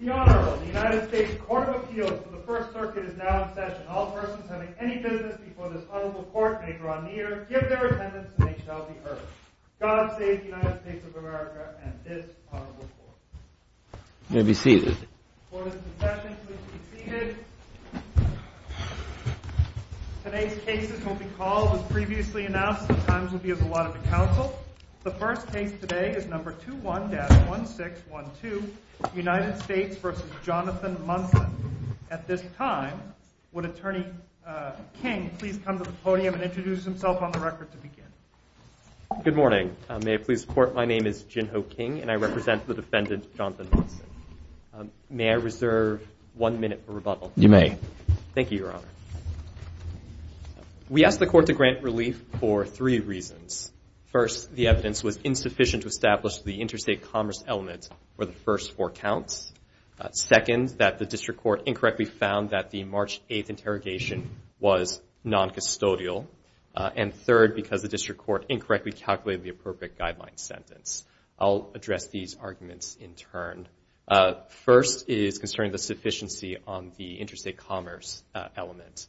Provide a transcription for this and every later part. The Honorable, the United States Court of Appeals for the First Circuit is now in session. All persons having any business before this Honorable Court may draw near, give their attendance, and they shall be heard. God save the United States of America and this Honorable Court. You may be seated. The Court is in session. Please be seated. Today's cases will be called as previously announced. Sometimes it will be as a lot of a council. The first case today is number 21-1612, United States v. Jonathan Monson. At this time, would Attorney King please come to the podium and introduce himself on the record to begin? Good morning. May I please report my name is Jin Ho King, and I represent the defendant, Jonathan Monson. May I reserve one minute for rebuttal? You may. Thank you, Your Honor. We asked the Court to grant relief for three reasons. First, the evidence was insufficient to establish the interstate commerce element for the first four counts. Second, that the district court incorrectly found that the March 8th interrogation was noncustodial. And third, because the district court incorrectly calculated the appropriate guideline sentence. I'll address these arguments in turn. First is concerning the sufficiency on the interstate commerce element.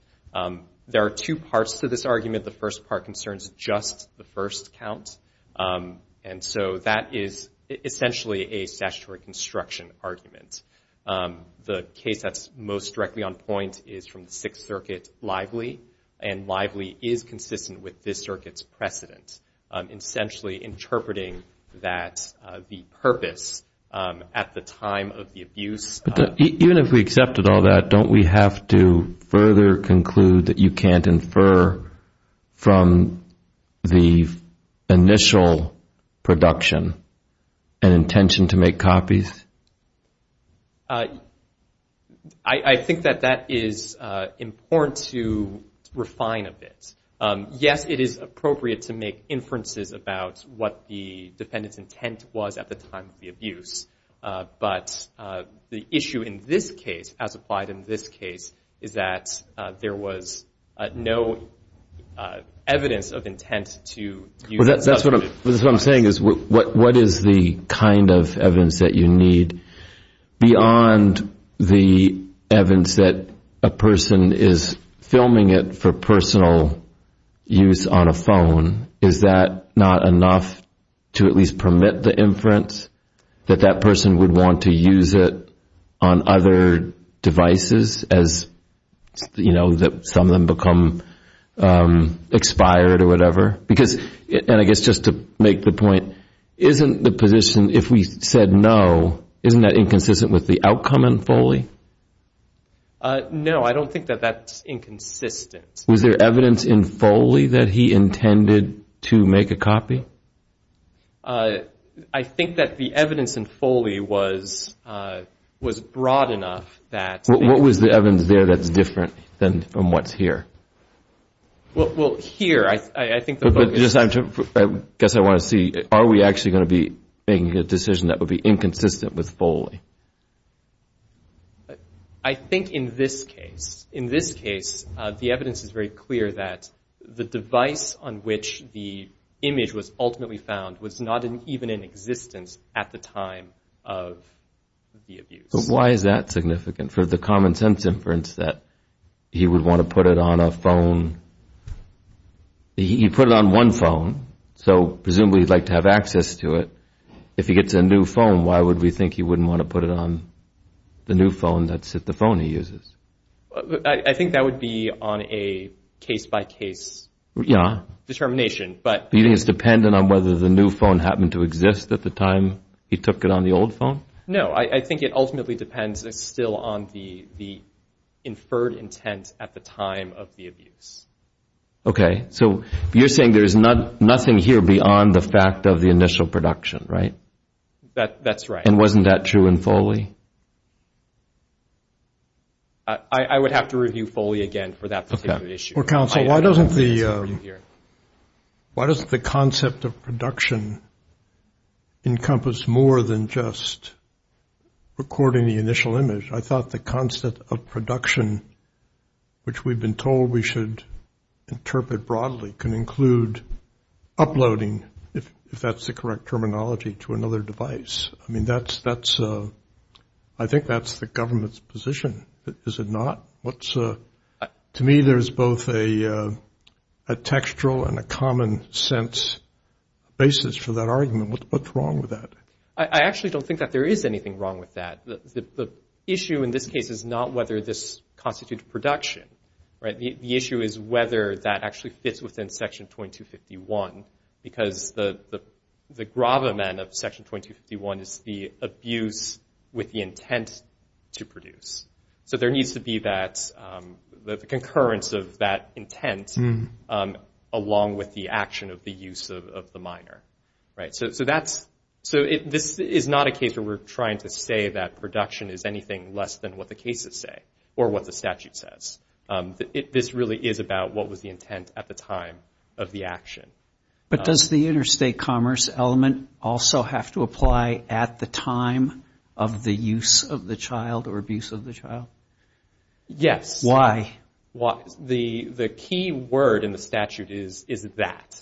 There are two parts to this argument. The first part concerns just the first count. And so that is essentially a statutory construction argument. The case that's most directly on point is from the Sixth Circuit, Lively, and Lively is consistent with this circuit's precedent, essentially interpreting that the purpose at the time of the abuse- I think that that is important to refine a bit. Yes, it is appropriate to make inferences about what the defendant's intent was at the time of the abuse. But the issue in this case, as applied in this case, is that there was no evidence of intent to use that subject. That's what I'm saying is what is the kind of evidence that you need? Beyond the evidence that a person is filming it for personal use on a phone, is that not enough to at least permit the inference that that person would want to use it on other devices as some of them become expired or whatever? Because, and I guess just to make the point, isn't the position, if we said no, isn't that inconsistent with the outcome in Foley? No, I don't think that that's inconsistent. Was there evidence in Foley that he intended to make a copy? I think that the evidence in Foley was broad enough that- What was the evidence there that's different than from what's here? Well, here, I think- I guess I want to see, are we actually going to be making a decision that would be inconsistent with Foley? I think in this case, the evidence is very clear that the device on which the image was ultimately found was not even in existence at the time of the abuse. But why is that significant for the common sense inference that he would want to put it on a phone? He put it on one phone, so presumably he'd like to have access to it. If he gets a new phone, why would we think he wouldn't want to put it on the new phone that's the phone he uses? I think that would be on a case-by-case determination. Do you think it's dependent on whether the new phone happened to exist at the time he took it on the old phone? No, I think it ultimately depends still on the inferred intent at the time of the abuse. Okay, so you're saying there's nothing here beyond the fact of the initial production, right? That's right. And wasn't that true in Foley? I would have to review Foley again for that particular issue. Counsel, why doesn't the concept of production encompass more than just recording the initial image? I thought the concept of production, which we've been told we should interpret broadly, can include uploading, if that's the correct terminology, to another device. I mean, I think that's the government's position, is it not? To me, there's both a textual and a common sense basis for that argument. What's wrong with that? I actually don't think that there is anything wrong with that. The issue in this case is not whether this constitutes production. The issue is whether that actually fits within Section 2251, because the gravamen of Section 2251 is the abuse with the intent to produce. So there needs to be the concurrence of that intent along with the action of the use of the minor. So this is not a case where we're trying to say that production is anything less than what the cases say or what the statute says. This really is about what was the intent at the time of the action. But does the interstate commerce element also have to apply at the time of the use of the child or abuse of the child? Yes. Why? The key word in the statute is that.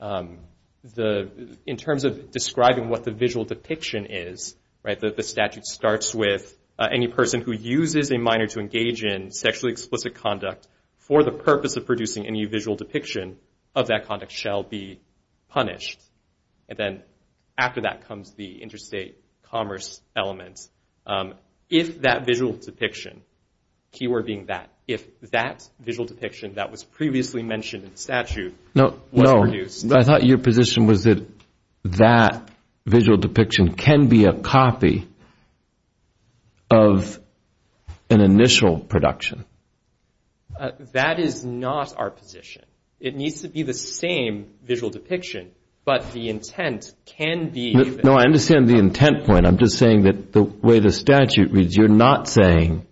In terms of describing what the visual depiction is, the statute starts with any person who uses a minor to engage in sexually explicit conduct for the purpose of producing any visual depiction of that conduct shall be punished. And then after that comes the interstate commerce element. If that visual depiction, key word being that, if that visual depiction that was previously mentioned in statute was produced. No, I thought your position was that that visual depiction can be a copy of an initial production. That is not our position. It needs to be the same visual depiction, but the intent can be. No, I understand the intent point. I'm just saying that the way the statute reads, you're not saying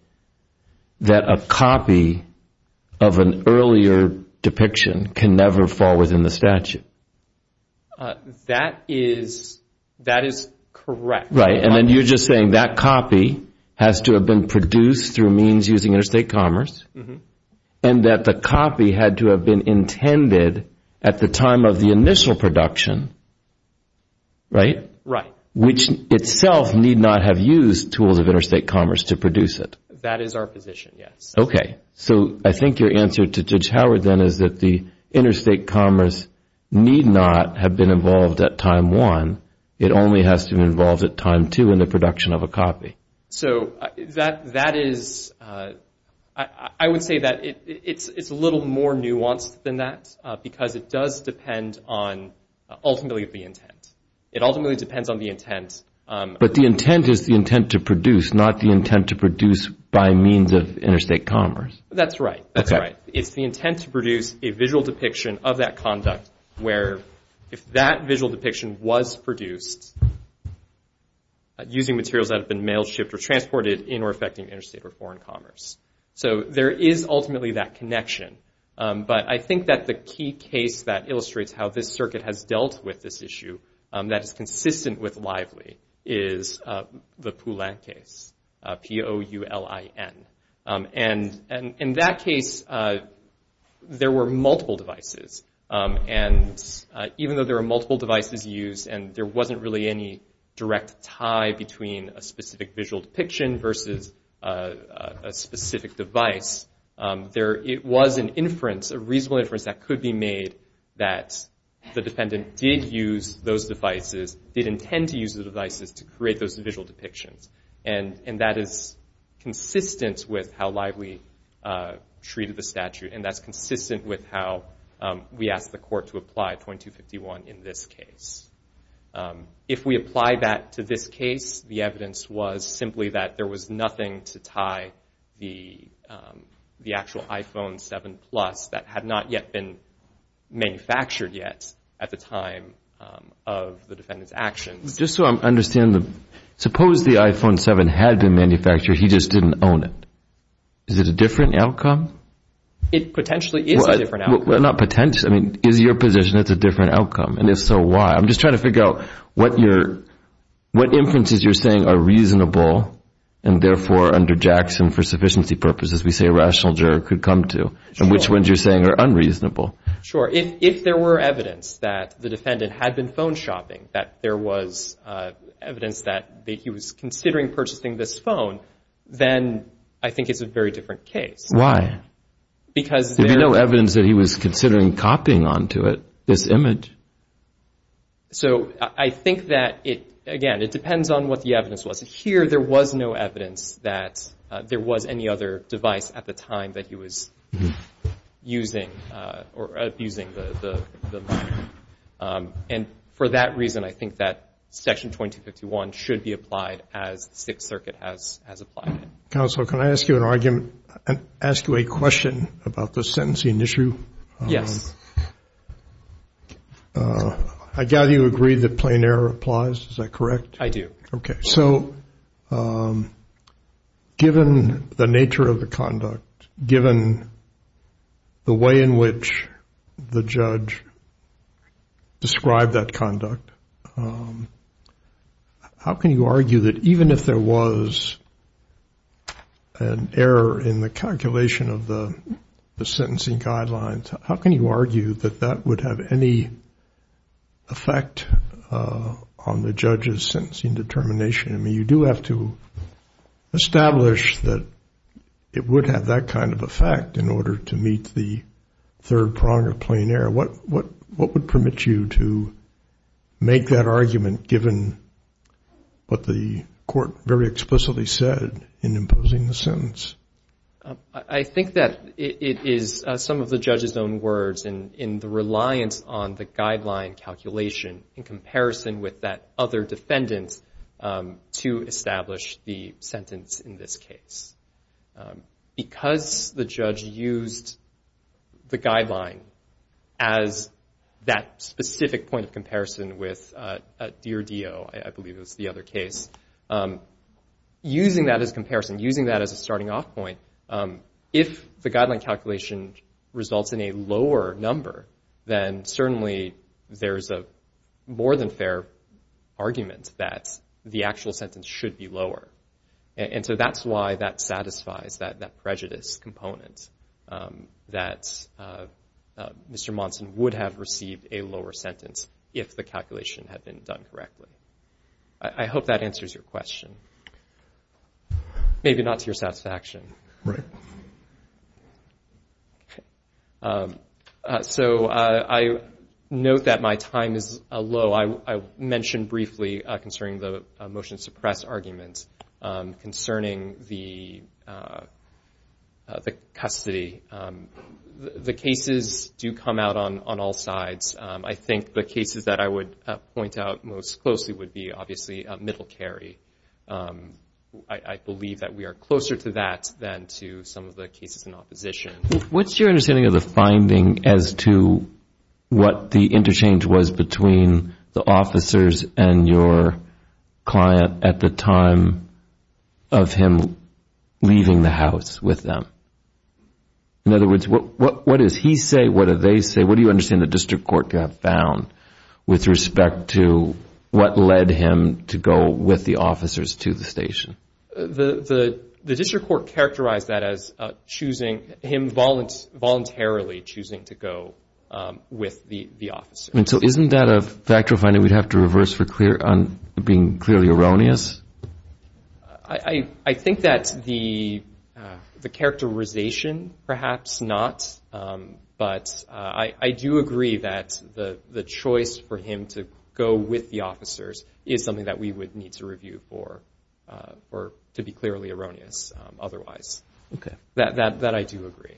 that a copy of an earlier depiction can never fall within the statute. That is correct. Right. And then you're just saying that copy has to have been produced through means using interstate commerce and that the copy had to have been intended at the time of the initial production, right? Right. Which itself need not have used tools of interstate commerce to produce it. That is our position, yes. Okay. So I think your answer to Judge Howard then is that the interstate commerce need not have been involved at time one. It only has to be involved at time two in the production of a copy. So that is, I would say that it's a little more nuanced than that because it does depend on ultimately the intent. It ultimately depends on the intent. But the intent is the intent to produce, not the intent to produce by means of interstate commerce. That's right. That's right. It's the intent to produce a visual depiction of that conduct where if that visual depiction was produced using materials that have been mailed, shipped, or transported in or affecting interstate or foreign commerce. So there is ultimately that connection. But I think that the key case that illustrates how this circuit has dealt with this issue that is consistent with Lively is the Poulin case. P-O-U-L-I-N. And in that case, there were multiple devices. And even though there were multiple devices used and there wasn't really any direct tie between a specific visual depiction versus a specific device, it was an inference, a reasonable inference that could be made that the defendant did use those devices, did intend to use those devices to create those visual depictions. And that is consistent with how Lively treated the statute. And that's consistent with how we asked the court to apply 2251 in this case. If we apply that to this case, the evidence was simply that there was nothing to tie the actual iPhone 7 Plus that had not yet been manufactured yet at the time of the defendant's actions. Just so I understand, suppose the iPhone 7 had been manufactured. He just didn't own it. Is it a different outcome? It potentially is a different outcome. Well, not potentially. I mean, is your position it's a different outcome? And if so, why? I'm just trying to figure out what inferences you're saying are reasonable and, therefore, under Jackson, for sufficiency purposes, we say a rational juror could come to and which ones you're saying are unreasonable. Sure. If there were evidence that the defendant had been phone shopping, that there was evidence that he was considering purchasing this phone, Why? Because there There was no evidence that he was considering copying onto it this image. So I think that it, again, it depends on what the evidence was. Here there was no evidence that there was any other device at the time that he was using or abusing the line. And for that reason, I think that Section 2251 should be applied as the Sixth Circuit has applied it. Counsel, can I ask you an argument, ask you a question about the sentencing issue? Yes. I gather you agree that plain error applies. Is that correct? I do. Okay. So given the nature of the conduct, given the way in which the judge described that conduct, how can you argue that even if there was an error in the calculation of the sentencing guidelines, how can you argue that that would have any effect on the judge's sentencing determination? I mean, you do have to establish that it would have that kind of effect in order to meet the third prong of plain error. What would permit you to make that argument given what the court very explicitly said in imposing the sentence? I think that it is some of the judge's own words in the reliance on the guideline calculation in comparison with that other defendant's to establish the sentence in this case. Because the judge used the guideline as that specific point of comparison with Dear Dio, I believe it was the other case, using that as comparison, using that as a starting off point, if the guideline calculation results in a lower number, then certainly there's a more than fair argument that the actual sentence should be lower. And so that's why that satisfies that prejudice component that Mr. Monson would have received a lower sentence if the calculation had been done correctly. I hope that answers your question. Maybe not to your satisfaction. Right. So I note that my time is low. I mentioned briefly concerning the motion to suppress argument concerning the custody. The cases do come out on all sides. I think the cases that I would point out most closely would be, obviously, Middle Kerry. I believe that we are closer to that than to some of the cases in opposition. What's your understanding of the finding as to what the interchange was between the officers and your client at the time of him leaving the house with them? In other words, what does he say? What do they say? What do you understand the district court found with respect to what led him to go with the officers to the station? The district court characterized that as him voluntarily choosing to go with the officers. So isn't that a factual finding we'd have to reverse for being clearly erroneous? I think that's the characterization, perhaps not. But I do agree that the choice for him to go with the officers is something that we would need to review for, or to be clearly erroneous otherwise. That I do agree.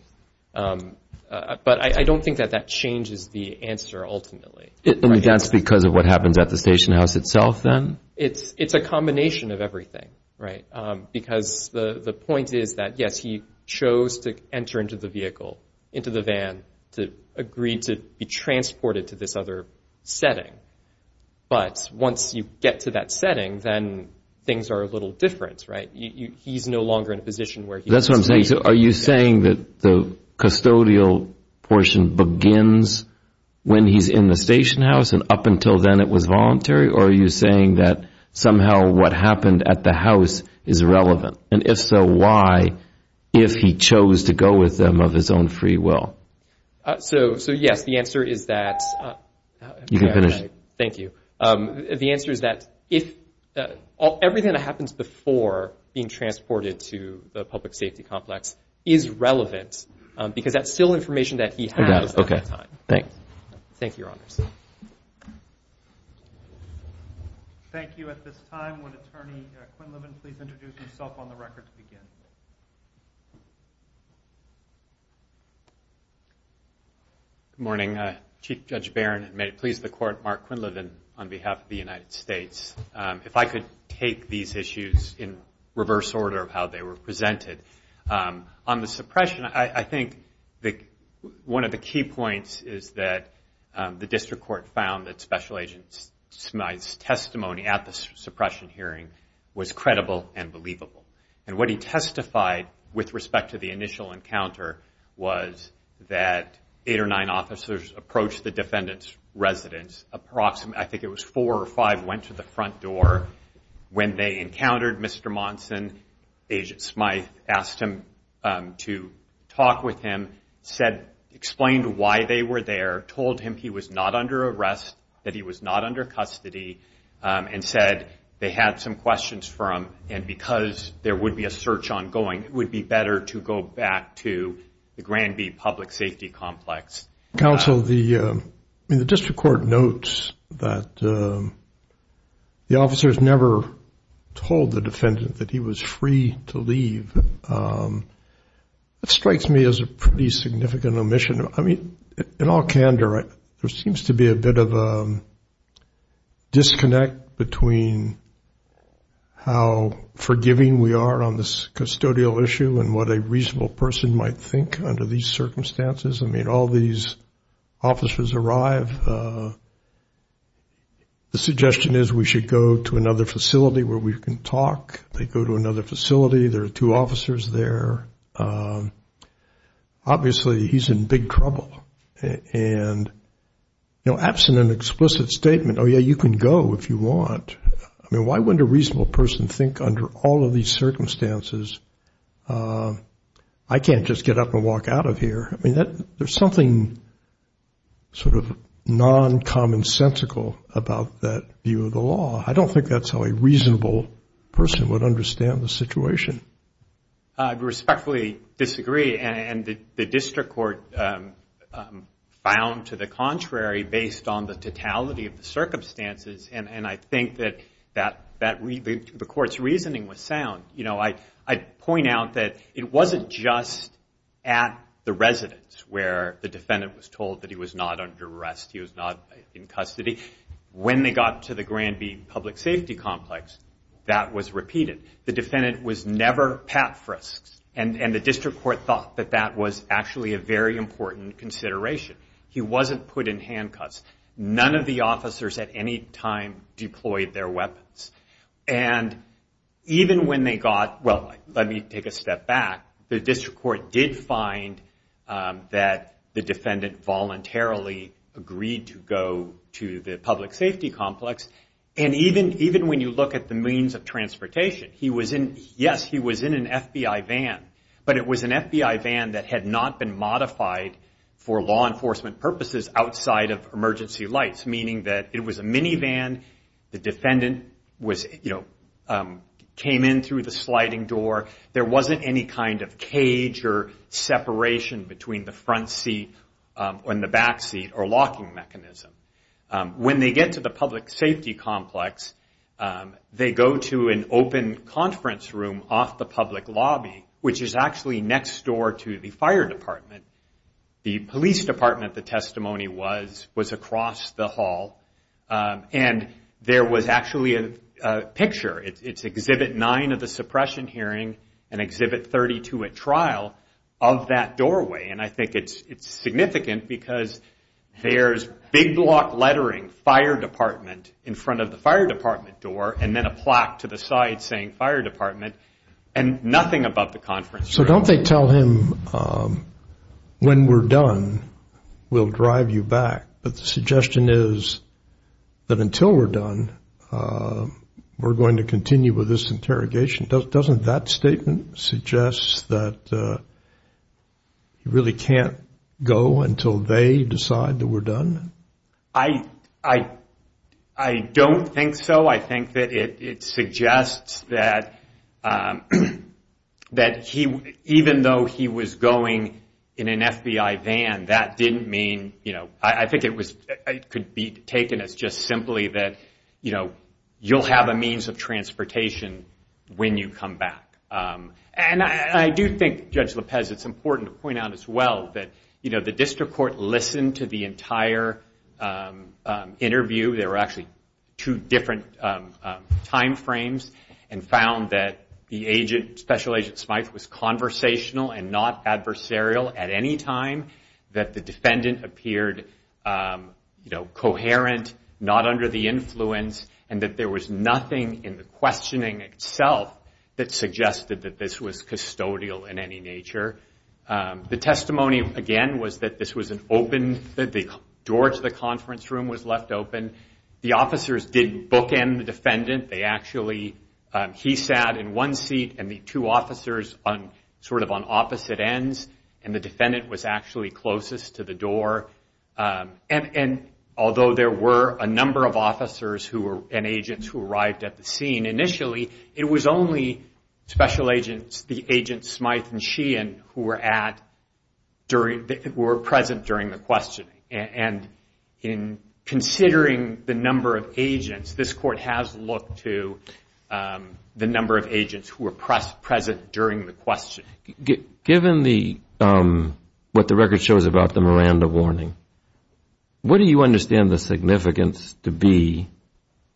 But I don't think that that changes the answer ultimately. I mean, that's because of what happens at the station house itself then? It's a combination of everything, right? Because the point is that, yes, he chose to enter into the vehicle, into the van, to agree to be transported to this other setting. But once you get to that setting, then things are a little different, right? He's no longer in a position where he can stay. That's what I'm saying. So are you saying that the custodial portion begins when he's in the station house and up until then it was voluntary? Or are you saying that somehow what happened at the house is relevant? And if so, why, if he chose to go with them of his own free will? So, yes, the answer is that everything that happens before being transported to the public safety complex is relevant because that's still information that he has at that time. Thanks. Thank you, Your Honors. Thank you. At this time, would Attorney Quinlivan please introduce himself on the record to begin? Good morning. Chief Judge Barron, and may it please the Court, Mark Quinlivan on behalf of the United States. If I could take these issues in reverse order of how they were presented. On the suppression, I think one of the key points is that the district court found that Special Agent Smyth's testimony at the suppression hearing was credible and believable. And what he testified with respect to the initial encounter was that eight or nine officers approached the defendant's residence. I think it was four or five went to the front door. When they encountered Mr. Monson, Agent Smyth asked him to talk with him, explained why they were there, told him he was not under arrest, that he was not under custody, and said they had some questions for him. And because there would be a search ongoing, it would be better to go back to the Granby Public Safety Complex. Counsel, the district court notes that the officers never told the defendant that he was free to leave. That strikes me as a pretty significant omission. I mean, in all candor, there seems to be a bit of a disconnect between how forgiving we are on this custodial issue and what a reasonable person might think under these circumstances. I mean, all these officers arrive. The suggestion is we should go to another facility where we can talk. They go to another facility. There are two officers there. Obviously, he's in big trouble. And absent an explicit statement, oh, yeah, you can go if you want, I mean, why wouldn't a reasonable person think under all of these circumstances, I can't just get up and walk out of here? I mean, there's something sort of non-commonsensical about that view of the law. I don't think that's how a reasonable person would understand the situation. I respectfully disagree, and the district court found to the contrary based on the totality of the circumstances, and I think that the court's reasoning was sound. You know, I'd point out that it wasn't just at the residence where the defendant was told that he was not under arrest, he was not in custody. When they got to the Granby Public Safety Complex, that was repeated. The defendant was never Pat Frisks, and the district court thought that that was actually a very important consideration. He wasn't put in handcuffs. None of the officers at any time deployed their weapons. And even when they got, well, let me take a step back. The district court did find that the defendant voluntarily agreed to go to the public safety complex, and even when you look at the means of transportation, he was in, yes, he was in an FBI van, but it was an FBI van that had not been modified for law enforcement purposes outside of emergency lights, meaning that it was a minivan. The defendant was, you know, came in through the sliding door. There wasn't any kind of cage or separation between the front seat and the back seat or locking mechanism. When they get to the public safety complex, they go to an open conference room off the public lobby, which is actually next door to the fire department. The police department, the testimony was across the hall, and there was actually a picture. It's Exhibit 9 of the suppression hearing and Exhibit 32 at trial of that doorway, and I think it's significant because there's big block lettering, fire department, in front of the fire department door, and then a plaque to the side saying fire department, and nothing above the conference room. So don't they tell him when we're done, we'll drive you back, but the suggestion is that until we're done, we're going to continue with this interrogation. Doesn't that statement suggest that he really can't go until they decide that we're done? I don't think so. I think that it suggests that even though he was going in an FBI van, that didn't mean, you know, I think it could be taken as just simply that, you know, you'll have a means of transportation when you come back. And I do think, Judge Lopez, it's important to point out as well that, you know, the district court listened to the entire interview. There were actually two different time frames and found that the agent, Special Agent Smyth, was conversational and not adversarial at any time, that the defendant appeared, you know, coherent, not under the influence, and that there was nothing in the questioning itself that suggested that this was custodial in any nature. The testimony, again, was that this was an open, that the door to the conference room was left open. The officers didn't bookend the defendant. They actually, he sat in one seat and the two officers sort of on opposite ends, and the defendant was actually closest to the door. And although there were a number of officers and agents who arrived at the scene, initially, it was only Special Agents, the agents Smyth and Sheehan, who were present during the questioning. And in considering the number of agents, this court has looked to the number of agents who were present during the questioning. Given what the record shows about the Miranda warning, what do you understand the significance to be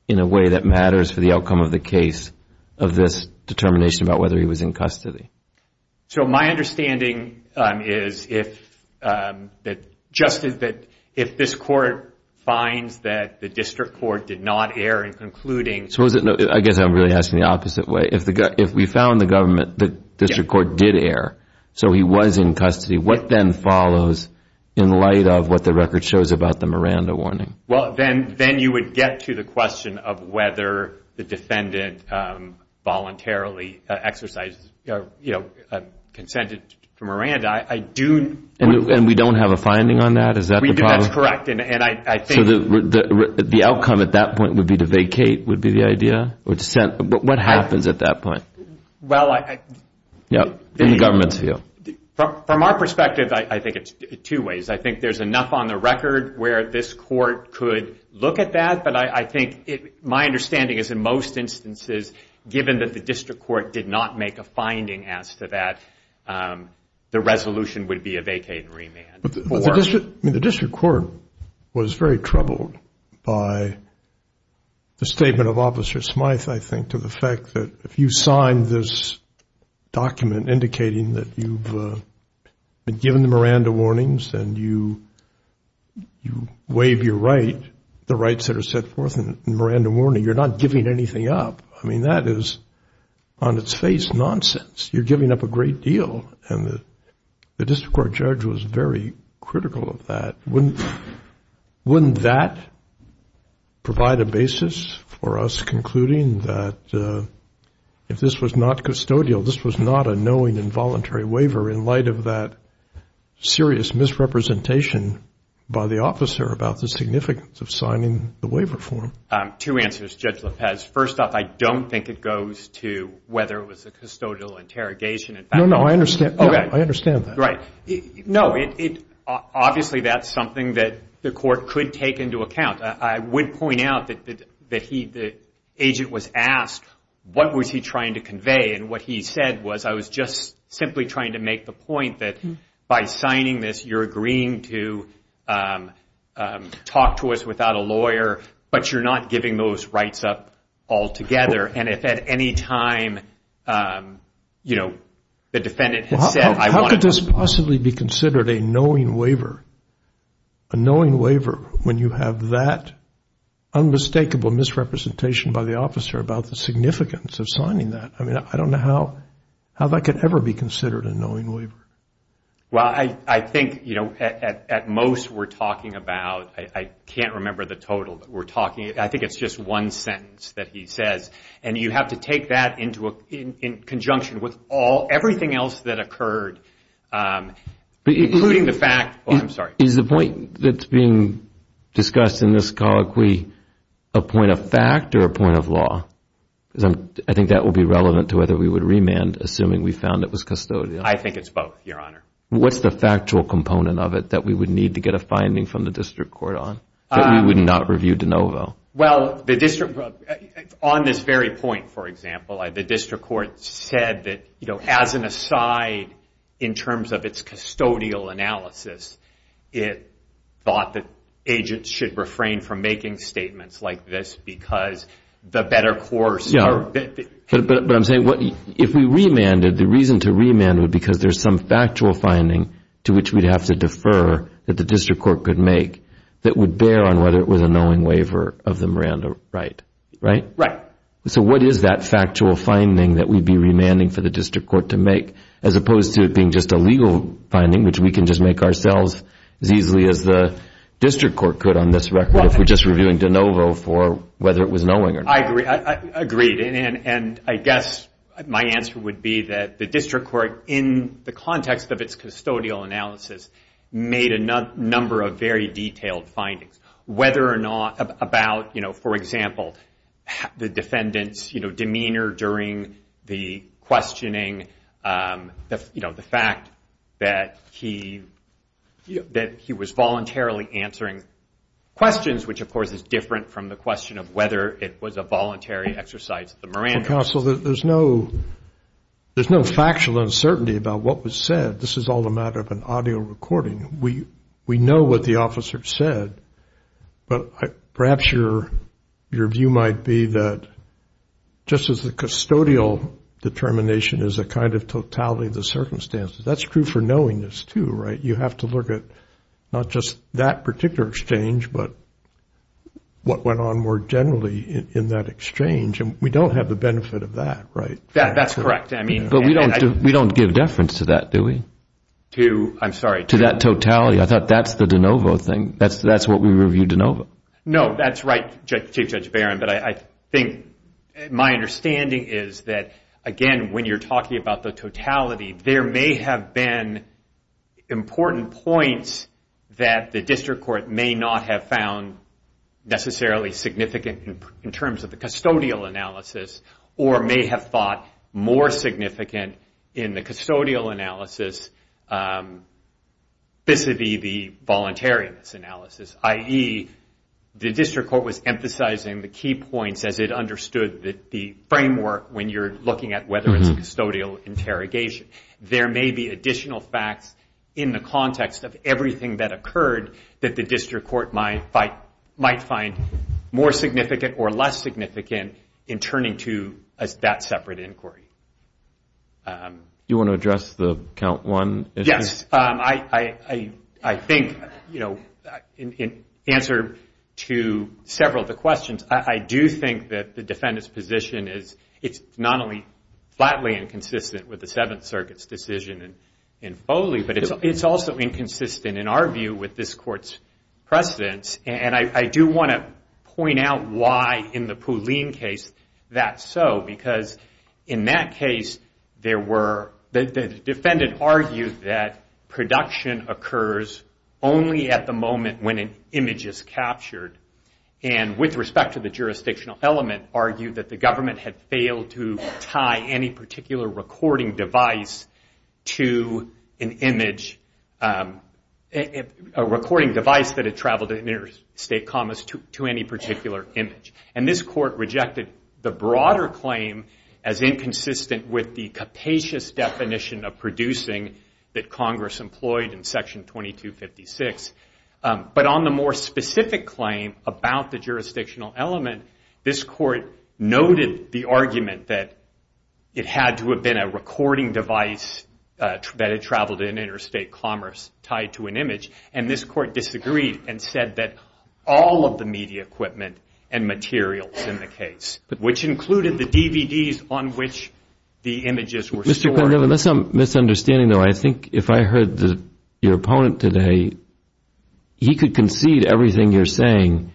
in a way that matters for the outcome of the case of this determination about whether he was in custody? So my understanding is that if this court finds that the district court did not err in concluding I guess I'm really asking the opposite way. If we found the government, the district court did err, so he was in custody, what then follows in light of what the record shows about the Miranda warning? Well, then you would get to the question of whether the defendant voluntarily exercised, you know, consented to Miranda. And we don't have a finding on that? Is that the problem? That's correct. So the outcome at that point would be to vacate would be the idea? What happens at that point in the government's view? From our perspective, I think it's two ways. I think there's enough on the record where this court could look at that, but I think my understanding is in most instances, given that the district court did not make a finding as to that, the resolution would be a vacate and remand. The district court was very troubled by the statement of Officer Smyth, I think, to the fact that if you sign this document indicating that you've been given the Miranda warnings and you waive your right, the rights that are set forth in the Miranda warning, you're not giving anything up. I mean, that is on its face nonsense. You're giving up a great deal, and the district court judge was very critical of that. Wouldn't that provide a basis for us concluding that if this was not custodial, this was not a knowing involuntary waiver in light of that serious misrepresentation by the officer about the significance of signing the waiver form? Two answers, Judge Lopez. First off, I don't think it goes to whether it was a custodial interrogation. No, no, I understand that. Right. No, obviously that's something that the court could take into account. I would point out that the agent was asked what was he trying to convey, and what he said was, I was just simply trying to make the point that by signing this, you're agreeing to talk to us without a lawyer, but you're not giving those rights up altogether, and if at any time, you know, the defendant has said, how could this possibly be considered a knowing waiver, a knowing waiver when you have that unmistakable misrepresentation by the officer about the significance of signing that? I mean, I don't know how that could ever be considered a knowing waiver. Well, I think, you know, at most we're talking about, I can't remember the total, but we're talking, I think it's just one sentence that he says, and you have to take that in conjunction with everything else that occurred, including the fact. Is the point that's being discussed in this colloquy a point of fact or a point of law? Because I think that would be relevant to whether we would remand, assuming we found it was custodial. I think it's both, Your Honor. What's the factual component of it that we would need to get a finding from the district court on, that we would not review de novo? Well, on this very point, for example, the district court said that, you know, as an aside in terms of its custodial analysis, it thought that agents should refrain from making statements like this because the better course. But I'm saying if we remanded, the reason to remand would be because there's some factual finding to which we'd have to defer that the district court could make that would bear on whether it was a knowing waiver of the Miranda right, right? Right. So what is that factual finding that we'd be remanding for the district court to make, as opposed to it being just a legal finding, which we can just make ourselves as easily as the district court could on this record, if we're just reviewing de novo for whether it was knowing or not? I agree. And I guess my answer would be that the district court, in the context of its custodial analysis, made a number of very detailed findings, whether or not about, you know, for example, the defendant's, you know, demeanor during the questioning, you know, the fact that he was voluntarily answering questions, which of course is different from the question of whether it was a voluntary exercise of the Miranda. Counsel, there's no factual uncertainty about what was said. This is all a matter of an audio recording. We know what the officer said, but perhaps your view might be that just as the custodial determination is a kind of totality of the circumstances, that's true for knowingness too, right? You have to look at not just that particular exchange, but what went on more generally in that exchange. And we don't have the benefit of that, right? That's correct. But we don't give deference to that, do we? To, I'm sorry? To that totality. I thought that's the de novo thing. That's what we reviewed de novo. No, that's right, Chief Judge Barron. But I think my understanding is that, again, when you're talking about the totality, there may have been important points that the district court may not have found necessarily significant in terms of the custodial analysis, or may have thought more significant in the custodial analysis vis-a-vis the voluntariness analysis, i.e., the district court was emphasizing the key points as it understood the framework when you're looking at whether it's a custodial interrogation. There may be additional facts in the context of everything that occurred that the district court might find more significant or less significant in turning to that separate inquiry. Do you want to address the count one issue? Yes. I think, in answer to several of the questions, I do think that the defendant's position is not only flatly inconsistent with the Seventh Circuit's decision in Foley, but it's also inconsistent, in our view, with this court's precedence. And I do want to point out why, in the Pooleen case, that's so. Because, in that case, the defendant argued that production occurs only at the moment when an image is captured. And, with respect to the jurisdictional element, argued that the government had failed to tie any particular recording device to an image, a recording device that had traveled in interstate commas to any particular image. And this court rejected the broader claim as inconsistent with the capacious definition of producing that Congress employed in Section 2256. But on the more specific claim about the jurisdictional element, this court noted the argument that it had to have been a recording device that had traveled in interstate commas tied to an image. And this court disagreed and said that all of the media equipment and materials in the case, which included the DVDs on which the images were stored. That's some misunderstanding, though. I think if I heard your opponent today, he could concede everything you're saying,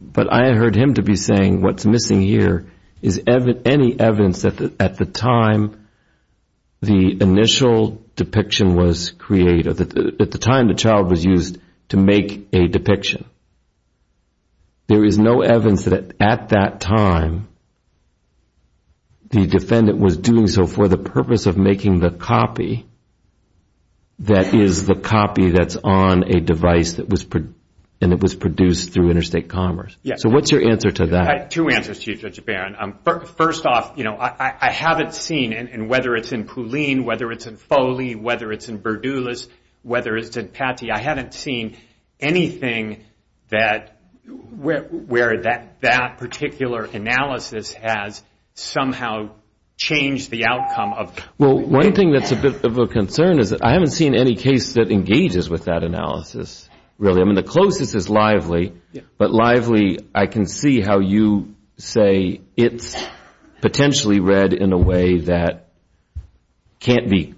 but I heard him to be saying what's missing here is any evidence that, at the time, the initial depiction was created, at the time the child was used to make a depiction. There is no evidence that, at that time, the defendant was doing so for the purpose of making the copy that is the copy that's on a device that was produced through interstate commas. So what's your answer to that? I have two answers to you, Judge Barron. First off, I haven't seen, and whether it's in Poulin, whether it's in Foley, whether it's in Berdoulas, whether it's in Patti, I haven't seen anything where that particular analysis has somehow changed the outcome. Well, one thing that's a bit of a concern is I haven't seen any case that engages with that analysis, really. I mean, the closest is Lively, but Lively, I can see how you say it's potentially read in a way that can't be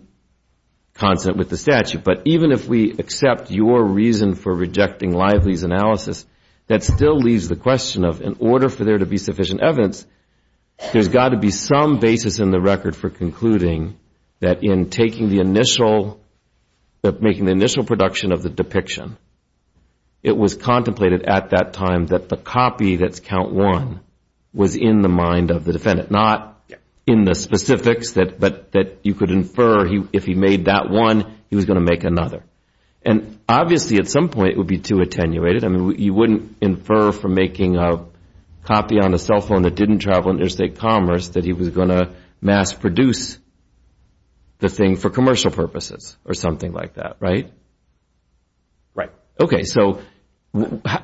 consonant with the statute. But even if we accept your reason for rejecting Lively's analysis, that still leaves the question of, in order for there to be sufficient evidence, there's got to be some basis in the record for concluding that in taking the initial, making the initial production of the depiction, it was contemplated at that time that the copy that's count one was in the mind of the defendant, not in the specifics, but that you could infer if he made that one, he was going to make another. And obviously, at some point, it would be too attenuated. I mean, you wouldn't infer from making a copy on a cell phone that didn't travel interstate commerce that he was going to mass produce the thing for commercial purposes or something like that, right? Right. Okay, so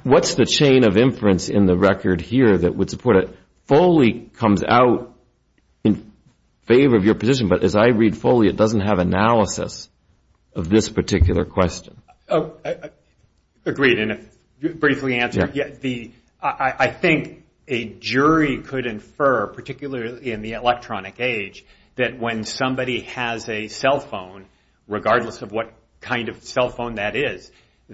what's the chain of inference in the record here that would support it? Foley comes out in favor of your position, but as I read Foley, it doesn't have analysis of this particular question. Agreed, and if briefly answered, I think a jury could infer, particularly in the electronic age, that when somebody has a cell phone, regardless of what kind of cell phone that is,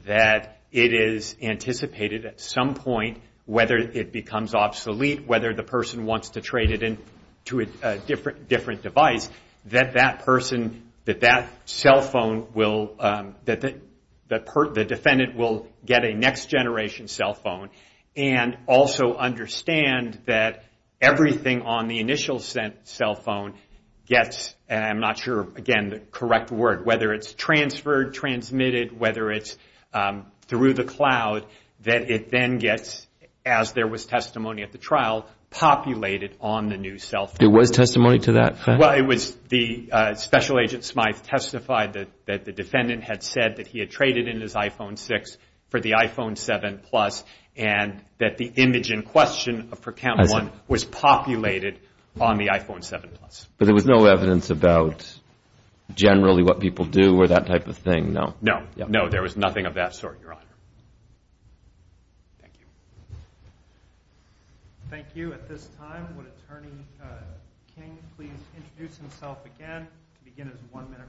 that it is anticipated at some point, whether it becomes obsolete, whether the person wants to trade it in to a different device, that that person, that that cell phone will, that the defendant will get a next generation cell phone and also understand that everything on the initial cell phone gets, and I'm not sure, again, the correct word, whether it's transferred, transmitted, whether it's through the cloud, that it then gets, as there was testimony at the trial, populated on the new cell phone. There was testimony to that fact? Well, it was the Special Agent Smythe testified that the defendant had said that he had traded in his iPhone 6 for the iPhone 7 Plus and that the image in question for Cam 1 was populated on the iPhone 7 Plus. But there was no evidence about generally what people do or that type of thing, no? No, no, there was nothing of that sort, Your Honor. Thank you. Thank you. At this time, would Attorney King please introduce himself again and begin his one-minute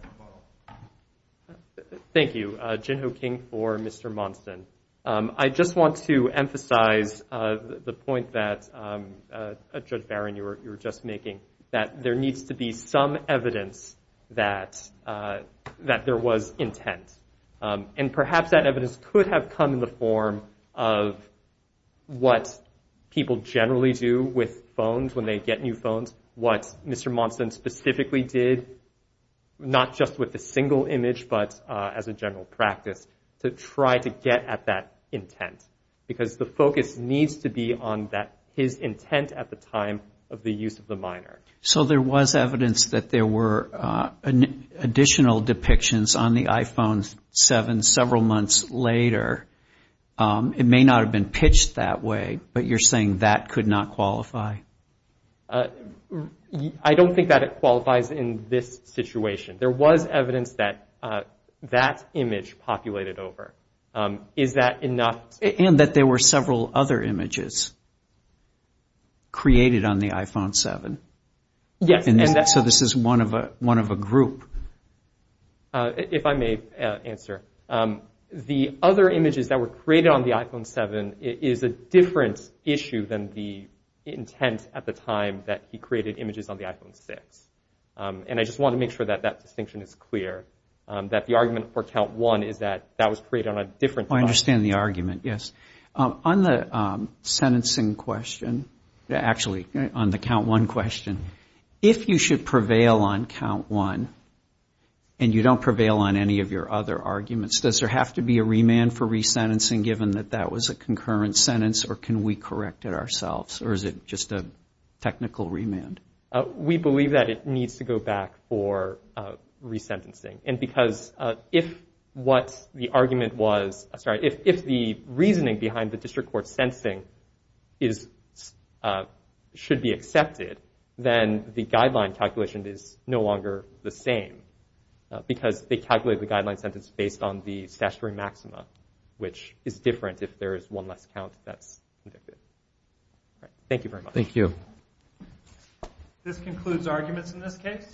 rebuttal? Thank you. Jinho King for Mr. Monson. I just want to emphasize the point that, Judge Barron, you were just making, that there needs to be some evidence that there was intent. And perhaps that evidence could have come in the form of what people generally do with phones when they get new phones, what Mr. Monson specifically did, not just with the single image but as a general practice, to try to get at that intent because the focus needs to be on his intent at the time of the use of the minor. So there was evidence that there were additional depictions on the iPhone 7 several months later. It may not have been pitched that way, but you're saying that could not qualify? I don't think that it qualifies in this situation. There was evidence that that image populated over. Is that enough? And that there were several other images created on the iPhone 7. Yes. So this is one of a group. If I may answer, the other images that were created on the iPhone 7 is a different issue than the intent at the time that he created images on the iPhone 6. And I just want to make sure that that distinction is clear, that the argument for Count 1 is that that was created on a different device. I understand the argument, yes. On the sentencing question, actually on the Count 1 question, if you should prevail on Count 1 and you don't prevail on any of your other arguments, does there have to be a remand for resentencing given that that was a concurrent sentence or can we correct it ourselves or is it just a technical remand? We believe that it needs to go back for resentencing. And because if what the argument was, sorry, if the reasoning behind the district court's sentencing should be accepted, then the guideline calculation is no longer the same because they calculated the guideline sentence based on the statutory maxima, which is different if there is one less count that's convicted. Thank you very much. Thank you. This concludes arguments in this case.